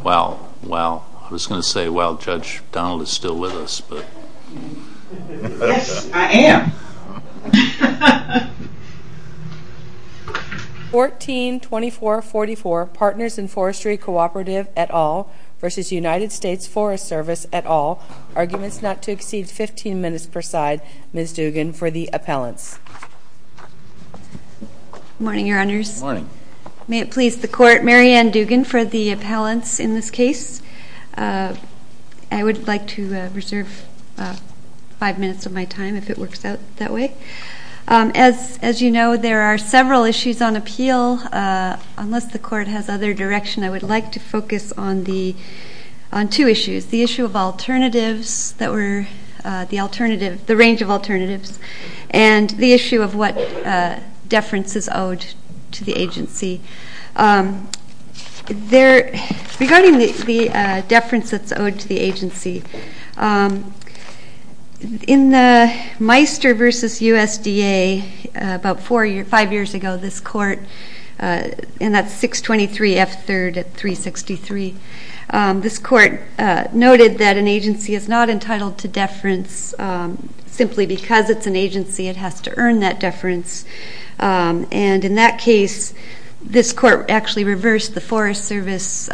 14-2444 Partners in Forestry Cooperative et al. v. United States Forest Service et al. Arguments not to exceed 15 minutes per side. Ms. Dugan for the appellants. Good morning, Your Honors. May it please the Court, Mary Ann Dugan for the appellants in this case. I would like to reserve five minutes of my time if it works out that way. As you know, there are several issues on appeal. Unless the Court has other direction, I would like to focus on two issues. The issue of alternatives, the range of alternatives, and the issue of what deference is owed to the agency. Regarding the deference that's owed to the agency, in the Meister v. USDA about five years ago, this Court, and that's 623 F. 3rd at 363, this Court noted that an agency is not entitled to deference simply because it's an agency. It has to earn that deference. And in that case, this Court actually reversed the Forest Service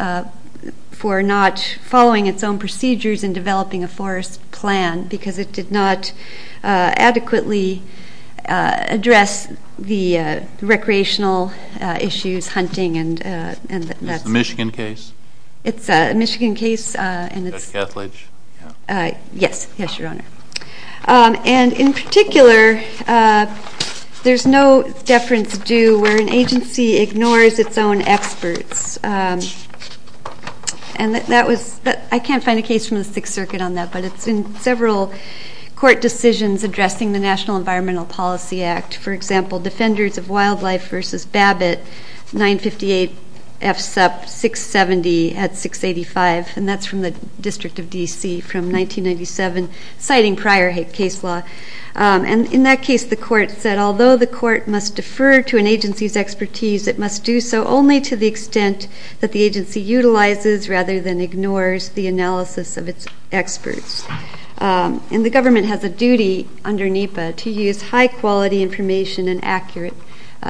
for not following its own procedures in developing a forest plan because it did not adequately address the recreational issues, hunting and that sort of thing. Is this a Michigan case? It's a Michigan case. Judge Kethledge? Yes. Yes, Your Honor. And in particular, there's no deference due where an agency ignores its own experts. I can't find a case from the Sixth Circuit on that, but it's in several court decisions addressing the National Environmental Policy Act. For example, Defenders of Wildlife v. Babbitt, 958 F. Sup. 670 at 685, and that's from the District of D.C. from 1997, citing prior case law. And in that case, the Court said, although the Court must defer to an agency's expertise, it must do so only to the extent that the agency utilizes rather than ignores the analysis of its experts. And the government has a duty under NEPA to use high-quality information and accurate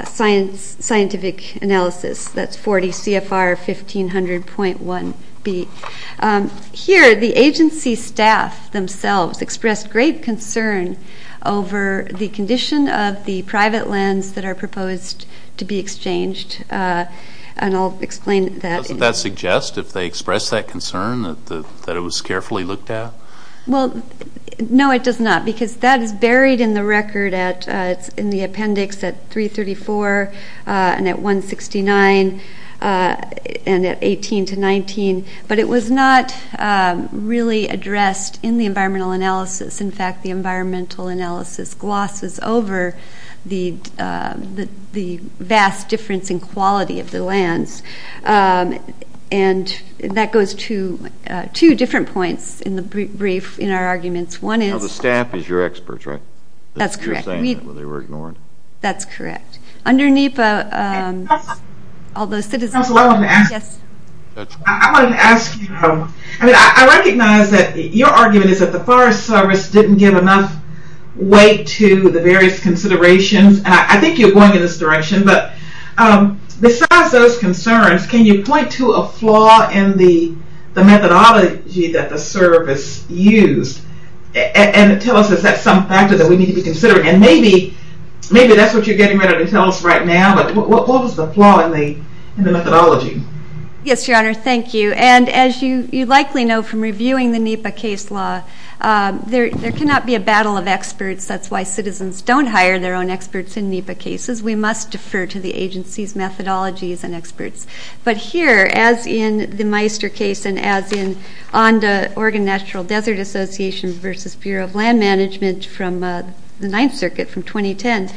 scientific analysis. That's 40 CFR 1500.1B. Here, the agency staff themselves expressed great concern over the condition of the private lands that are proposed to be exchanged, and I'll explain that. Doesn't that suggest, if they expressed that concern, that it was carefully looked at? Well, no, it does not, because that is buried in the record. It's in the appendix at 334 and at 169 and at 18 to 19, but it was not really addressed in the environmental analysis. In fact, the environmental analysis glosses over the vast difference in quality of the lands, and that goes to two different points in the brief in our arguments. One is… Now, the staff is your experts, right? That's correct. You're saying that they were ignored? That's correct. Under NEPA, all those citizens… I wanted to ask you, I recognize that your argument is that the Forest Service didn't give enough weight to the various considerations. I think you're going in this direction, but besides those concerns, can you point to a flaw in the methodology that the service used and tell us, is that some factor that we need to be considering? And maybe that's what you're getting ready to tell us right now, but what was the flaw in the methodology? Yes, Your Honor, thank you. And as you likely know from reviewing the NEPA case law, there cannot be a battle of experts. That's why citizens don't hire their own experts in NEPA cases. We must defer to the agency's methodologies and experts. But here, as in the Meister case and as in ONDA, Oregon National Desert Association versus Bureau of Land Management from the Ninth Circuit from 2010,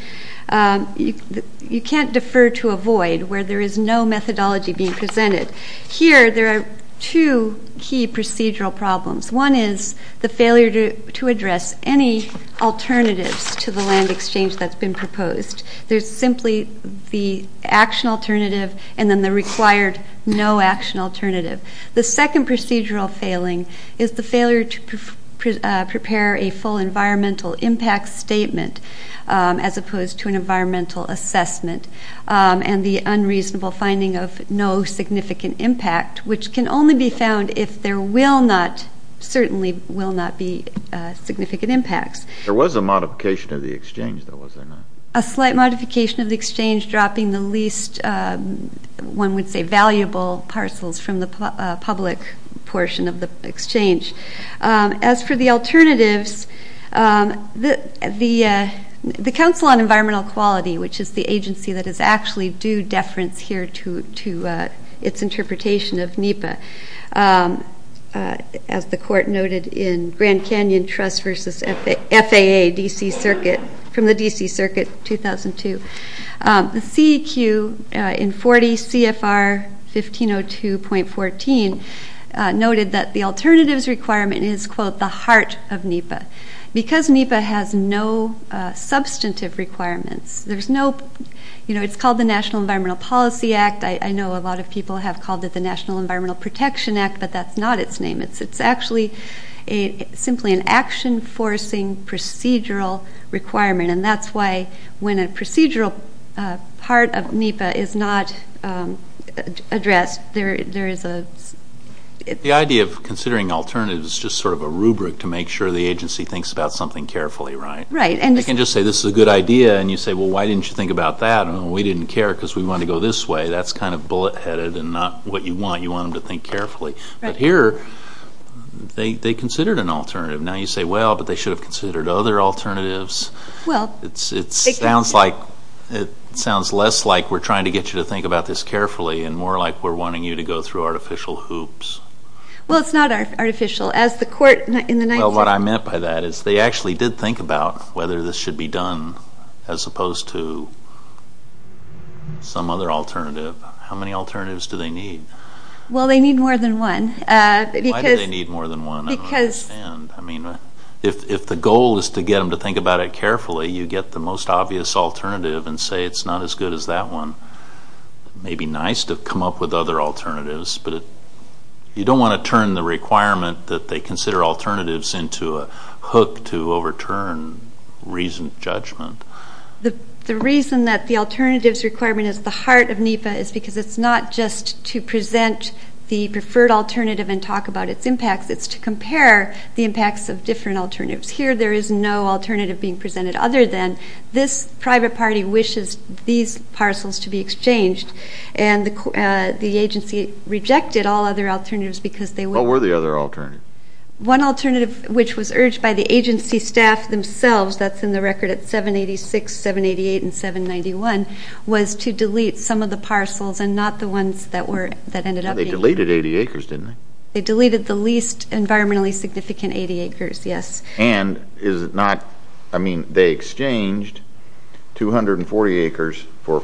you can't defer to a void where there is no methodology being presented. Here, there are two key procedural problems. One is the failure to address any alternatives to the land exchange that's been proposed. There's simply the action alternative and then the required no action alternative. The second procedural failing is the failure to prepare a full environmental impact statement as opposed to an environmental assessment and the unreasonable finding of no significant impact, which can only be found if there will not, certainly will not be significant impacts. There was a modification of the exchange, though, was there not? A slight modification of the exchange dropping the least, one would say, valuable parcels from the public portion of the exchange. As for the alternatives, the Council on Environmental Quality, which is the agency that is actually due deference here to its interpretation of NEPA, as the court noted in Grand Canyon Trust versus FAA, D.C. Circuit, from the D.C. Circuit, 2002. The CEQ in 40 CFR 1502.14 noted that the alternatives requirement is, quote, the heart of NEPA. Because NEPA has no substantive requirements, there's no, you know, it's called the National Environmental Policy Act. I know a lot of people have called it the National Environmental Protection Act, but that's not its name. It's actually simply an action-forcing procedural requirement, and that's why when a procedural part of NEPA is not addressed, there is a ‑‑ The idea of considering alternatives is just sort of a rubric to make sure the agency thinks about something carefully, right? Right. You can't just say, this is a good idea, and you say, well, why didn't you think about that? We didn't care because we wanted to go this way. That's kind of bullet‑headed and not what you want. You want them to think carefully. But here, they considered an alternative. Now you say, well, but they should have considered other alternatives. It sounds less like we're trying to get you to think about this carefully and more like we're wanting you to go through artificial hoops. Well, it's not artificial. Well, what I meant by that is they actually did think about whether this should be done as opposed to some other alternative. How many alternatives do they need? Well, they need more than one. Why do they need more than one? If the goal is to get them to think about it carefully, you get the most obvious alternative and say it's not as good as that one. It may be nice to come up with other alternatives, but you don't want to turn the requirement that they consider alternatives into a hook to overturn reasoned judgment. The reason that the alternatives requirement is at the heart of NEPA is because it's not just to present the preferred alternative and talk about its impacts. It's to compare the impacts of different alternatives. Here there is no alternative being presented other than this private party wishes these parcels to be exchanged, and the agency rejected all other alternatives because they weren't. What were the other alternatives? One alternative which was urged by the agency staff themselves, that's in the record at 786, 788, and 791, was to delete some of the parcels and not the ones that ended up being. But they deleted 80 acres, didn't they? They deleted the least environmentally significant 80 acres, yes. And is it not, I mean, they exchanged 240 acres for,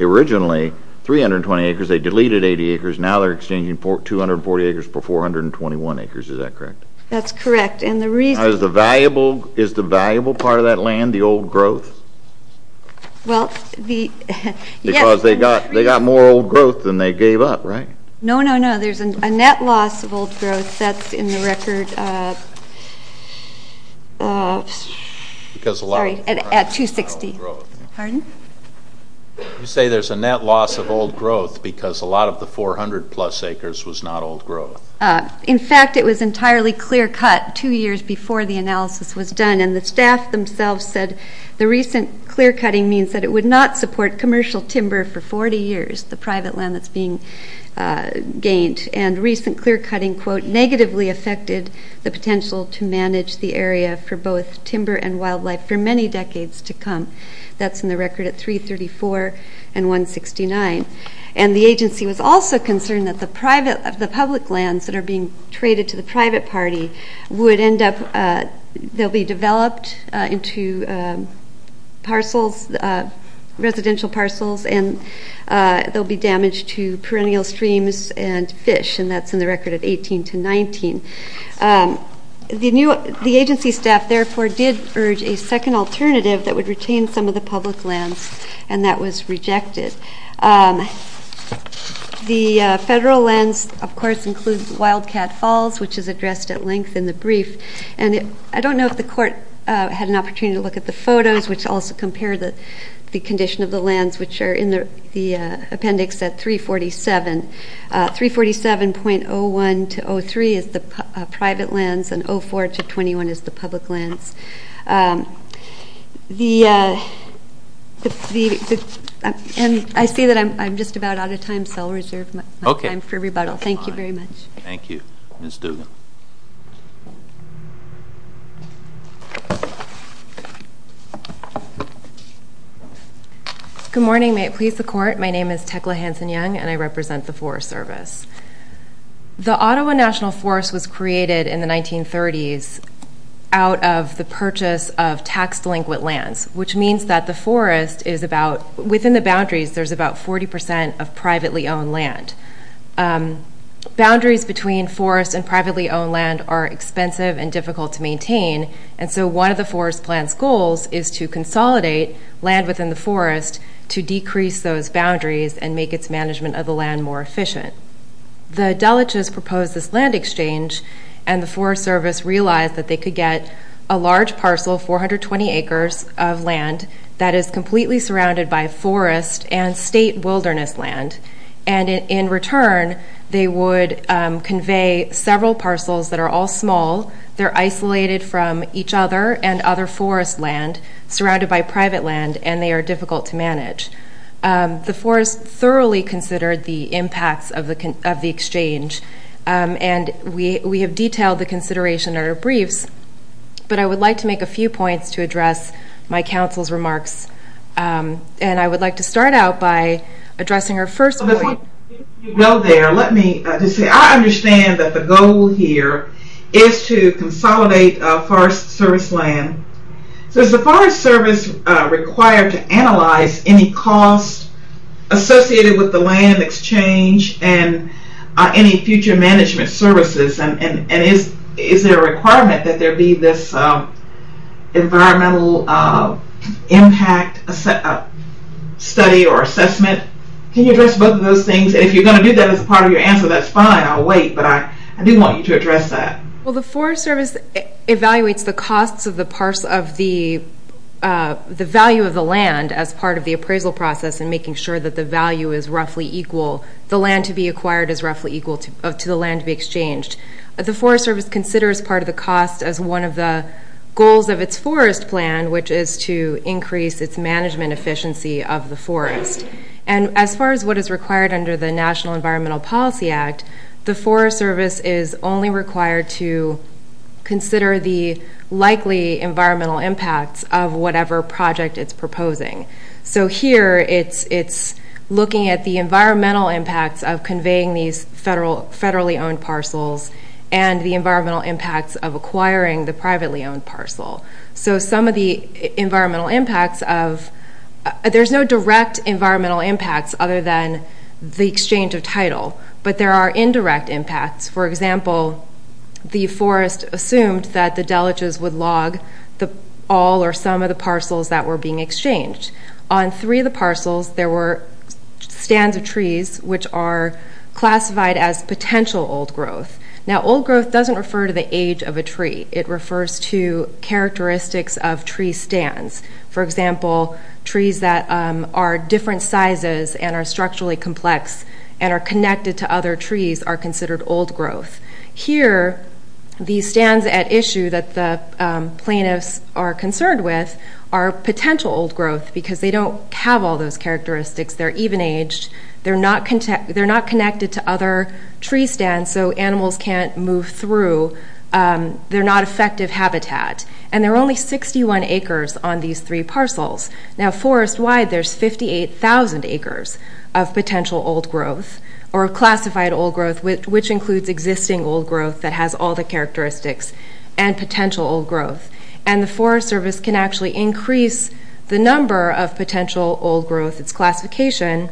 originally 320 acres, they deleted 80 acres, now they're exchanging 240 acres for 421 acres, is that correct? That's correct, and the reason... Is the valuable part of that land the old growth? Well, the... Because they got more old growth than they gave up, right? No, no, no, there's a net loss of old growth, that's in the record. Sorry, at 260. Pardon? You say there's a net loss of old growth because a lot of the 400 plus acres was not old growth. In fact, it was entirely clear cut two years before the analysis was done, and the staff themselves said the recent clear cutting means that it would not support commercial timber for 40 years, the private land that's being gained. And recent clear cutting, quote, negatively affected the potential to manage the area for both timber and wildlife for many decades to come. That's in the record at 334 and 169. And the agency was also concerned that the public lands that are being traded to the private party would end up, they'll be developed into parcels, residential parcels, and they'll be damaged to perennial streams and fish, and that's in the record at 18 to 19. The agency staff, therefore, did urge a second alternative that would retain some of the public lands, and that was rejected. The federal lands, of course, include Wildcat Falls, which is addressed at length in the brief, and I don't know if the court had an opportunity to look at the photos, which also compare the condition of the lands, which are in the appendix at 347. 347.01 to 03 is the private lands, and 04 to 21 is the public lands. And I see that I'm just about out of time, so I'll reserve my time for rebuttal. Thank you very much. Thank you. Ms. Duggan. Good morning. May it please the court, my name is Tecla Hanson-Young, and I represent the Forest Service. The Ottawa National Forest was created in the 1930s out of the purchase of tax-delinquent lands, which means that the forest is about, within the boundaries, there's about 40% of privately owned land. Boundaries between forest and privately owned land are expensive and difficult to maintain, and so one of the forest plan's goals is to consolidate land within the forest to decrease those boundaries and make its management of the land more efficient. The Dulwich's proposed this land exchange, and the Forest Service realized that they could get a large parcel, 420 acres of land, that is completely surrounded by forest and state wilderness land, and in return they would convey several parcels that are all small, they're isolated from each other and other forest land, surrounded by private land, and they are difficult to manage. The forest thoroughly considered the impacts of the exchange, and we have detailed the consideration in our briefs, but I would like to make a few points to address my counsel's remarks. And I would like to start out by addressing her first point. Before you go there, let me just say I understand that the goal here is to consolidate forest service land. So is the Forest Service required to analyze any cost associated with the land exchange and any future management services, and is there a requirement that there be this environmental impact study or assessment? Can you address both of those things? And if you're going to do that as part of your answer, that's fine, I'll wait, but I do want you to address that. Well, the Forest Service evaluates the costs of the value of the land as part of the appraisal process and making sure that the value is roughly equal, the land to be acquired is roughly equal to the land to be exchanged. The Forest Service considers part of the cost as one of the goals of its forest plan, which is to increase its management efficiency of the forest. And as far as what is required under the National Environmental Policy Act, the Forest Service is only required to consider the likely environmental impacts of whatever project it's proposing. So here it's looking at the environmental impacts of conveying these federally owned parcels and the environmental impacts of acquiring the privately owned parcel. So some of the environmental impacts of, there's no direct environmental impacts other than the exchange of title, but there are indirect impacts. For example, the forest assumed that the deleges would log all or some of the parcels that were being exchanged. On three of the parcels, there were stands of trees which are classified as potential old growth. Now old growth doesn't refer to the age of a tree. It refers to characteristics of tree stands. For example, trees that are different sizes and are structurally complex and are connected to other trees are considered old growth. Here, the stands at issue that the plaintiffs are concerned with are potential old growth because they don't have all those characteristics. They're even-aged. They're not connected to other tree stands, so animals can't move through. They're not effective habitat. And there are only 61 acres on these three parcels. Now forest-wide, there's 58,000 acres of potential old growth, or classified old growth, which includes existing old growth that has all the characteristics and potential old growth. And the Forest Service can actually increase the number of potential old growth, its classification,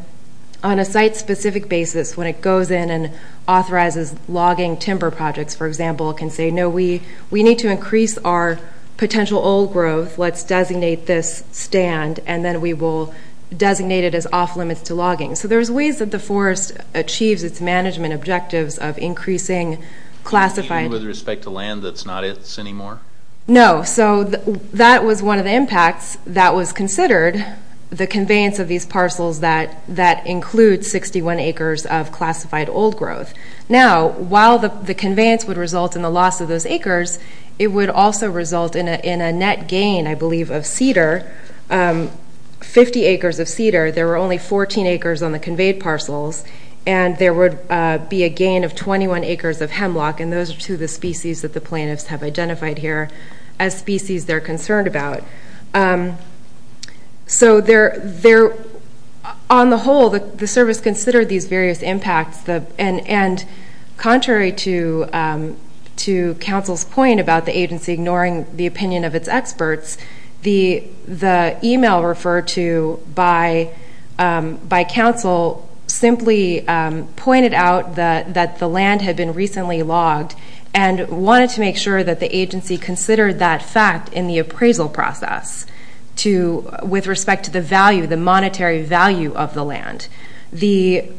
on a site-specific basis. When it goes in and authorizes logging timber projects, for example, it can say, no, we need to increase our potential old growth. Let's designate this stand, and then we will designate it as off-limits to logging. So there's ways that the forest achieves its management objectives of increasing classified- Even with respect to land that's not its anymore? No. So that was one of the impacts that was considered, the conveyance of these parcels that include 61 acres of classified old growth. Now, while the conveyance would result in the loss of those acres, it would also result in a net gain, I believe, of cedar, 50 acres of cedar. There were only 14 acres on the conveyed parcels, and there would be a gain of 21 acres of hemlock, and those are two of the species that the plaintiffs have identified here as species they're concerned about. So on the whole, the service considered these various impacts, and contrary to counsel's point about the agency ignoring the opinion of its experts, the email referred to by counsel simply pointed out that the land had been recently logged and wanted to make sure that the agency considered that fact in the appraisal process with respect to the value, the monetary value of the land. The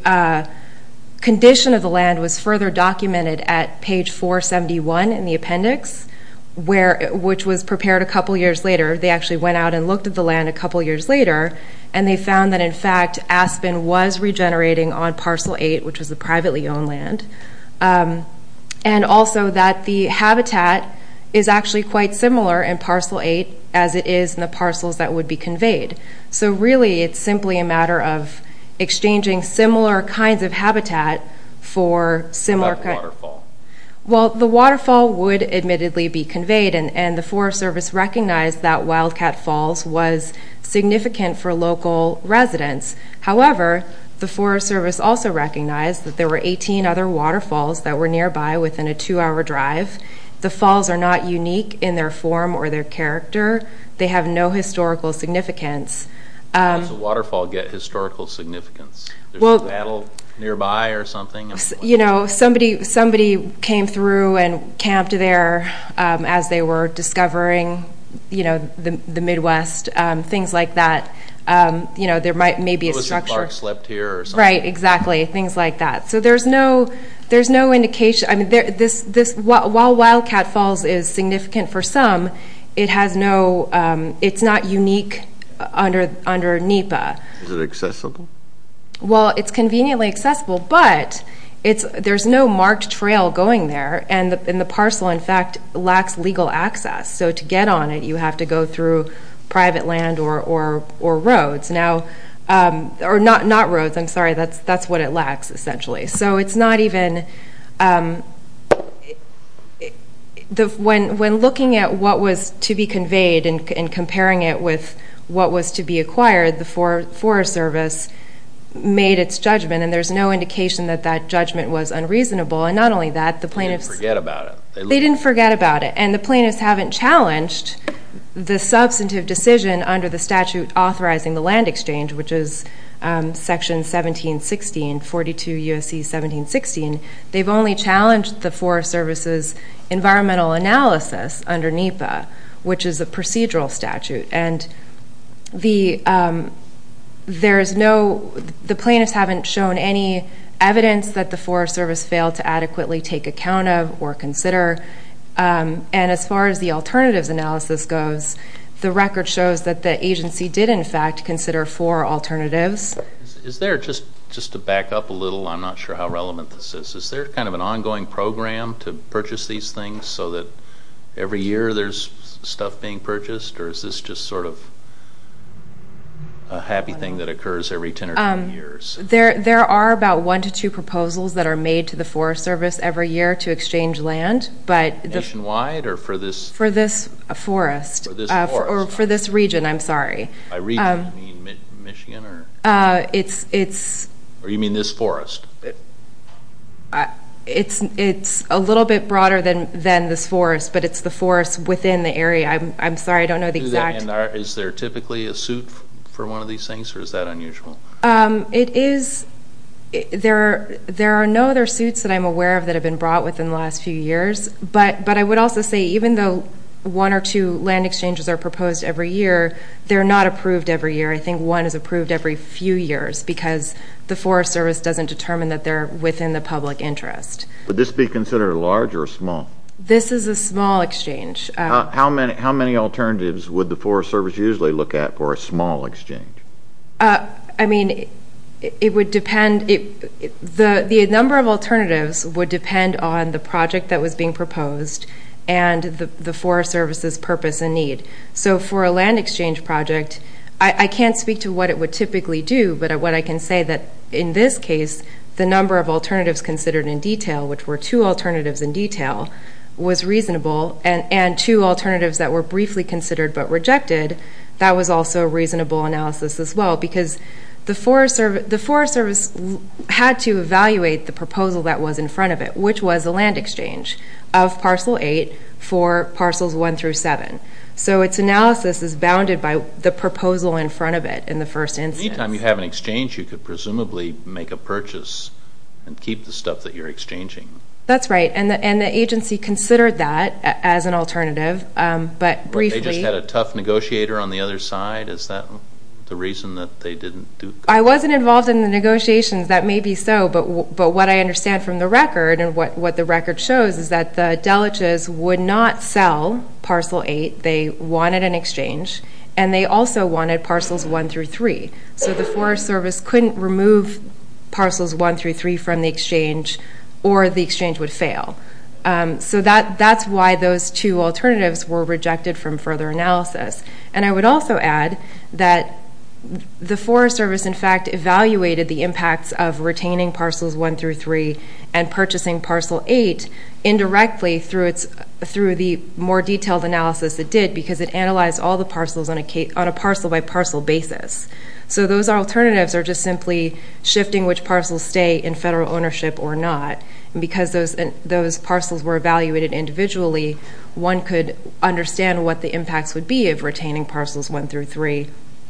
condition of the land was further documented at page 471 in the appendix, which was prepared a couple years later. They actually went out and looked at the land a couple years later, and they found that, in fact, aspen was regenerating on Parcel 8, which was the privately owned land, and also that the habitat is actually quite similar in Parcel 8 as it is in the parcels that would be conveyed. So really it's simply a matter of exchanging similar kinds of habitat for similar kinds. What about the waterfall? Well, the waterfall would admittedly be conveyed, and the Forest Service recognized that Wildcat Falls was significant for local residents. However, the Forest Service also recognized that there were 18 other waterfalls that were nearby within a two-hour drive. The falls are not unique in their form or their character. They have no historical significance. How does a waterfall get historical significance? There's a battle nearby or something? You know, somebody came through and camped there as they were discovering the Midwest, things like that. You know, there may be a structure. Elizabeth Clark slept here or something? Right, exactly, things like that. So there's no indication. While Wildcat Falls is significant for some, it's not unique under NEPA. Is it accessible? Well, it's conveniently accessible, but there's no marked trail going there, and the parcel, in fact, lacks legal access. So to get on it, you have to go through private land or roads. Or not roads, I'm sorry, that's what it lacks essentially. So it's not even the one. When looking at what was to be conveyed and comparing it with what was to be acquired, the Forest Service made its judgment, and there's no indication that that judgment was unreasonable. And not only that, the plaintiffs didn't forget about it. And the plaintiffs haven't challenged the substantive decision under the statute authorizing the land exchange, which is Section 1716, 42 U.S.C. 1716. They've only challenged the Forest Service's environmental analysis under NEPA, which is a procedural statute. And the plaintiffs haven't shown any evidence that the Forest Service failed to adequately take account of or consider. And as far as the alternatives analysis goes, the record shows that the agency did, in fact, consider four alternatives. Is there, just to back up a little, I'm not sure how relevant this is, is there kind of an ongoing program to purchase these things so that every year there's stuff being purchased? Or is this just sort of a happy thing that occurs every 10 or 20 years? There are about one to two proposals that are made to the Forest Service every year to exchange land. Nationwide or for this? For this forest. For this forest. Or for this region, I'm sorry. By region, you mean Michigan or? It's... Or you mean this forest? It's a little bit broader than this forest, but it's the forest within the area. I'm sorry. I don't know the exact... Is there typically a suit for one of these things, or is that unusual? It is. There are no other suits that I'm aware of that have been brought within the last few years. But I would also say, even though one or two land exchanges are proposed every year, they're not approved every year. I think one is approved every few years because the Forest Service doesn't determine that they're within the public interest. Would this be considered a large or a small? This is a small exchange. How many alternatives would the Forest Service usually look at for a small exchange? I mean, it would depend. The number of alternatives would depend on the project that was being proposed and the Forest Service's purpose and need. So for a land exchange project, I can't speak to what it would typically do, but what I can say that in this case, the number of alternatives considered in detail, which were two alternatives in detail, was reasonable, and two alternatives that were briefly considered but rejected, that was also a reasonable analysis as well because the Forest Service had to evaluate the proposal that was in front of it, which was a land exchange of Parcel 8 for Parcels 1 through 7. So its analysis is bounded by the proposal in front of it in the first instance. Anytime you have an exchange, you could presumably make a purchase and keep the stuff that you're exchanging. That's right, and the agency considered that as an alternative, but briefly. They just had a tough negotiator on the other side? Is that the reason that they didn't do that? I wasn't involved in the negotiations. That may be so, but what I understand from the record and what the record shows is that the Deliches would not sell Parcel 8. They wanted an exchange, and they also wanted Parcels 1 through 3. So the Forest Service couldn't remove Parcels 1 through 3 from the exchange, or the exchange would fail. So that's why those two alternatives were rejected from further analysis, and I would also add that the Forest Service, in fact, evaluated the impacts of retaining Parcels 1 through 3 and purchasing Parcel 8 indirectly through the more detailed analysis it did because it analyzed all the parcels on a parcel-by-parcel basis. So those alternatives are just simply shifting which parcels stay in federal ownership or not, and because those parcels were evaluated individually, one could understand what the impacts would be of retaining Parcels 1 through 3.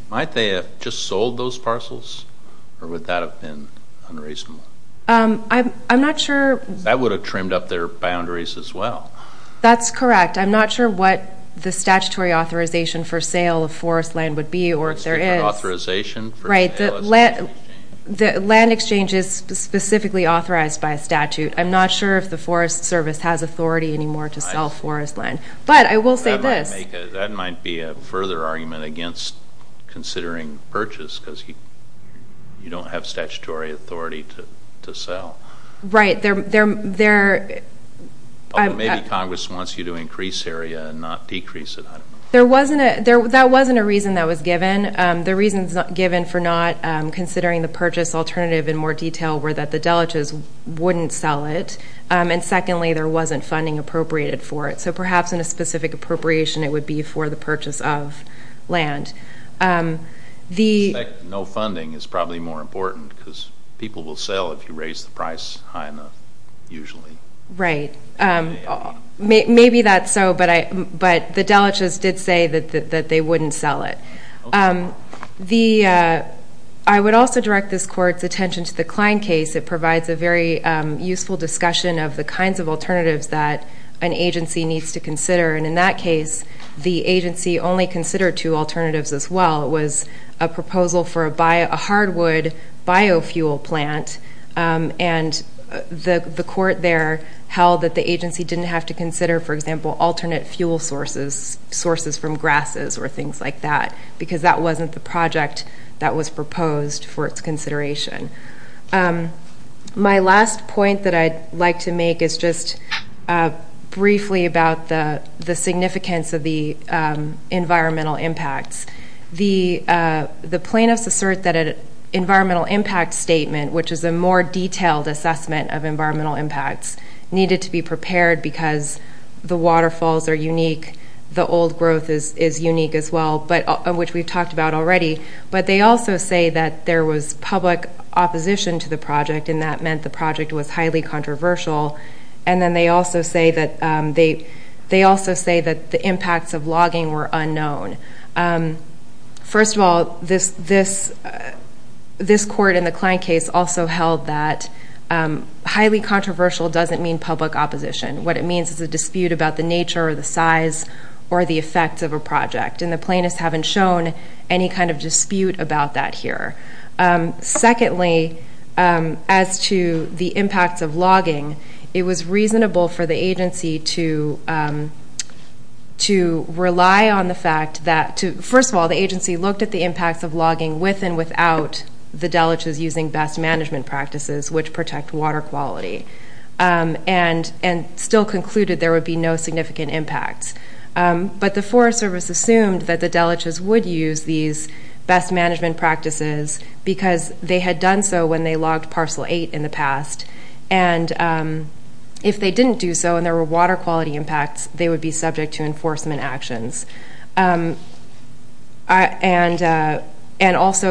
Might they have just sold those parcels, or would that have been unreasonable? I'm not sure. That would have trimmed up their boundaries as well. That's correct. I'm not sure what the statutory authorization for sale of forest land would be or if there is. The statutory authorization? Right. The land exchange is specifically authorized by a statute. I'm not sure if the Forest Service has authority anymore to sell forest land, but I will say this. That might be a further argument against considering purchase because you don't have statutory authority to sell. Right. Maybe Congress wants you to increase area and not decrease it. That wasn't a reason that was given. The reasons given for not considering the purchase alternative in more detail were that the deleges wouldn't sell it, and secondly, there wasn't funding appropriated for it. So perhaps in a specific appropriation it would be for the purchase of land. No funding is probably more important because people will sell if you raise the price high enough, usually. Right. Maybe that's so, but the deleges did say that they wouldn't sell it. I would also direct this Court's attention to the Klein case. It provides a very useful discussion of the kinds of alternatives that an agency needs to consider, and in that case the agency only considered two alternatives as well. It was a proposal for a hardwood biofuel plant, and the Court there held that the agency didn't have to consider, for example, alternate fuel sources, sources from grasses or things like that, because that wasn't the project that was proposed for its consideration. My last point that I'd like to make is just briefly about the significance of the environmental impacts. The plaintiffs assert that an environmental impact statement, which is a more detailed assessment of environmental impacts, needed to be prepared because the waterfalls are unique, the old growth is unique as well, which we've talked about already. But they also say that there was public opposition to the project, and that meant the project was highly controversial. And then they also say that the impacts of logging were unknown. First of all, this Court in the Klein case also held that highly controversial doesn't mean public opposition. What it means is a dispute about the nature or the size or the effects of a project, and the plaintiffs haven't shown any kind of dispute about that here. Secondly, as to the impacts of logging, it was reasonable for the agency to rely on the fact that, first of all, the agency looked at the impacts of logging with and without the delegates using best management practices, which protect water quality, and still concluded there would be no significant impacts. But the Forest Service assumed that the delegates would use these best management practices because they had done so when they logged Parcel 8 in the past. And if they didn't do so and there were water quality impacts, they would be subject to enforcement actions. And also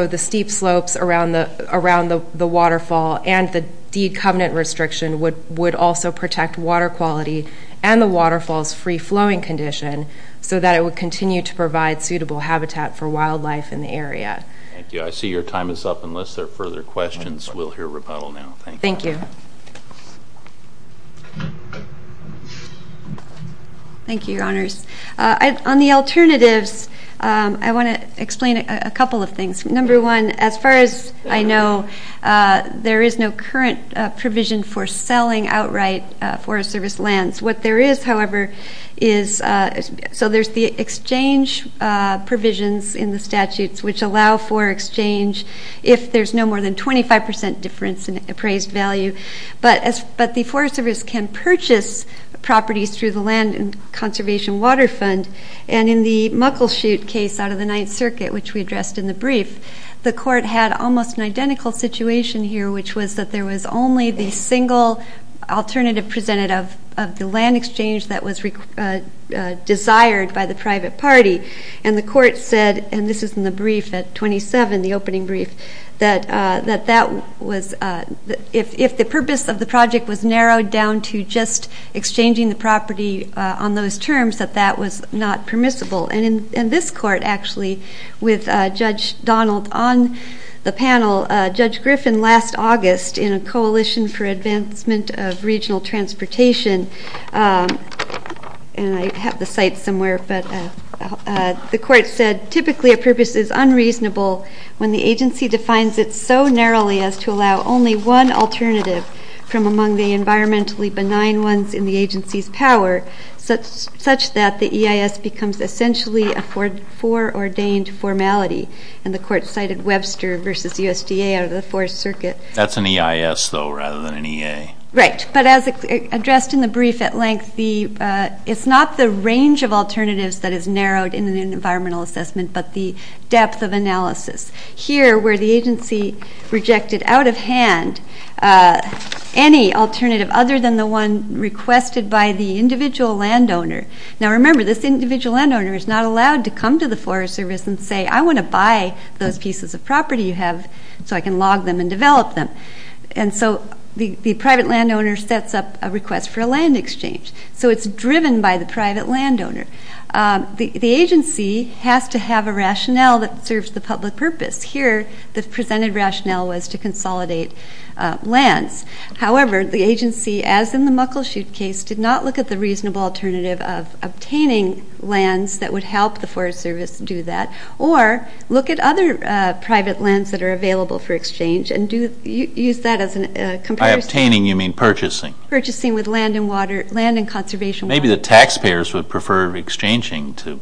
the steep slopes around the waterfall and the deed covenant restriction would also protect water quality and the waterfall's free-flowing condition so that it would continue to provide suitable habitat for wildlife in the area. Thank you. I see your time is up. Unless there are further questions, we'll hear rebuttal now. Thank you. Thank you, Your Honors. On the alternatives, I want to explain a couple of things. Number one, as far as I know, there is no current provision for selling outright Forest Service lands. What there is, however, is so there's the exchange provisions in the statutes, which allow for exchange if there's no more than 25 percent difference in appraised value. But the Forest Service can purchase properties through the Land and Conservation Water Fund. And in the Muckleshoot case out of the Ninth Circuit, which we addressed in the brief, the court had almost an identical situation here, which was that there was only the single alternative presented of the land exchange that was desired by the private party. And the court said, and this is in the brief at 27, the opening brief, that if the purpose of the project was narrowed down to just exchanging the property on those terms, that that was not permissible. And in this court, actually, with Judge Donald on the panel, Judge Griffin last August in a Coalition for Advancement of Regional Transportation, and I have the site somewhere, but the court said, typically a purpose is unreasonable when the agency defines it so narrowly as to allow only one alternative from among the environmentally benign ones in the agency's power, such that the EIS becomes essentially a foreordained formality. And the court cited Webster v. USDA out of the Fourth Circuit. That's an EIS, though, rather than an EA. Right, but as addressed in the brief at length, it's not the range of alternatives that is narrowed in an environmental assessment, but the depth of analysis. Here, where the agency rejected out of hand any alternative other than the one requested by the individual landowner. Now, remember, this individual landowner is not allowed to come to the Forest Service and say, I want to buy those pieces of property you have so I can log them and develop them. And so the private landowner sets up a request for a land exchange. So it's driven by the private landowner. The agency has to have a rationale that serves the public purpose. Here, the presented rationale was to consolidate lands. However, the agency, as in the Muckleshoot case, did not look at the reasonable alternative of obtaining lands that would help the Forest Service do that, or look at other private lands that are available for exchange and use that as a comparison. By obtaining, you mean purchasing. Purchasing with land and water, land and conservation water. Maybe the taxpayers would prefer exchanging to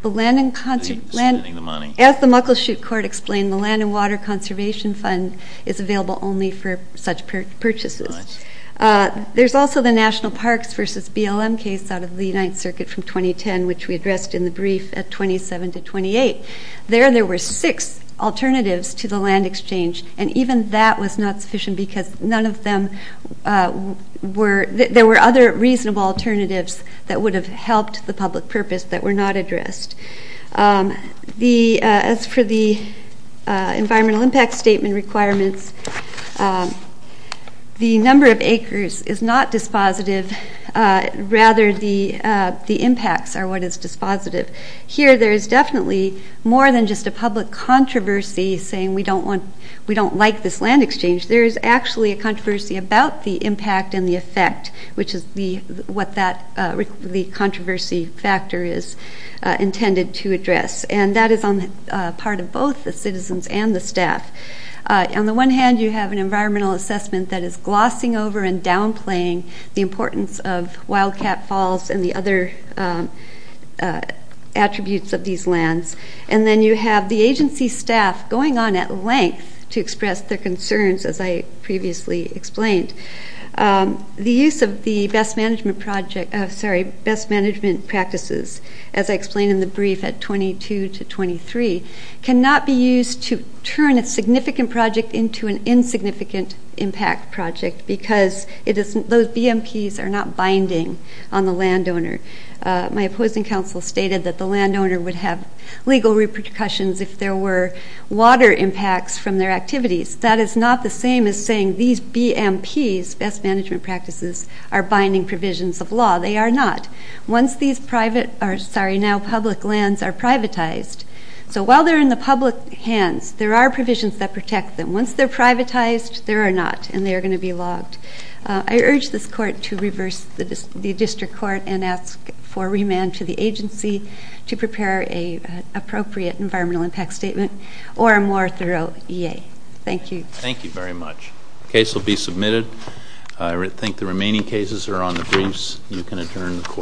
spending the money. As the Muckleshoot court explained, the land and water conservation fund is available only for such purchases. There's also the National Parks v. BLM case out of the United Circuit from 2010, which we addressed in the brief at 27 to 28. There, there were six alternatives to the land exchange, and even that was not sufficient because none of them were, there were other reasonable alternatives that would have helped the public purpose that were not addressed. The, as for the environmental impact statement requirements, the number of acres is not dispositive. Rather, the impacts are what is dispositive. Here, there is definitely more than just a public controversy saying we don't want, we don't like this land exchange. There is actually a controversy about the impact and the effect, which is the, what that, the controversy factor is intended to address. And that is on the part of both the citizens and the staff. On the one hand, you have an environmental assessment that is glossing over and downplaying the importance of Wildcat Falls and the other attributes of these lands. And then you have the agency staff going on at length to express their concerns, as I previously explained. The use of the best management project, sorry, best management practices, as I explained in the brief at 22 to 23, cannot be used to turn a significant project into an insignificant impact project because it is, those BMPs are not binding on the landowner. My opposing counsel stated that the landowner would have legal repercussions if there were water impacts from their activities. That is not the same as saying these BMPs, best management practices, are binding provisions of law. They are not. Once these private, or sorry, now public lands are privatized, so while they're in the public hands, there are provisions that protect them. Once they're privatized, they are not and they are going to be logged. I urge this court to reverse the district court and ask for remand to the agency to prepare an appropriate environmental impact statement or a more thorough EA. Thank you. Thank you very much. The case will be submitted. I think the remaining cases are on the briefs. You can adjourn the court.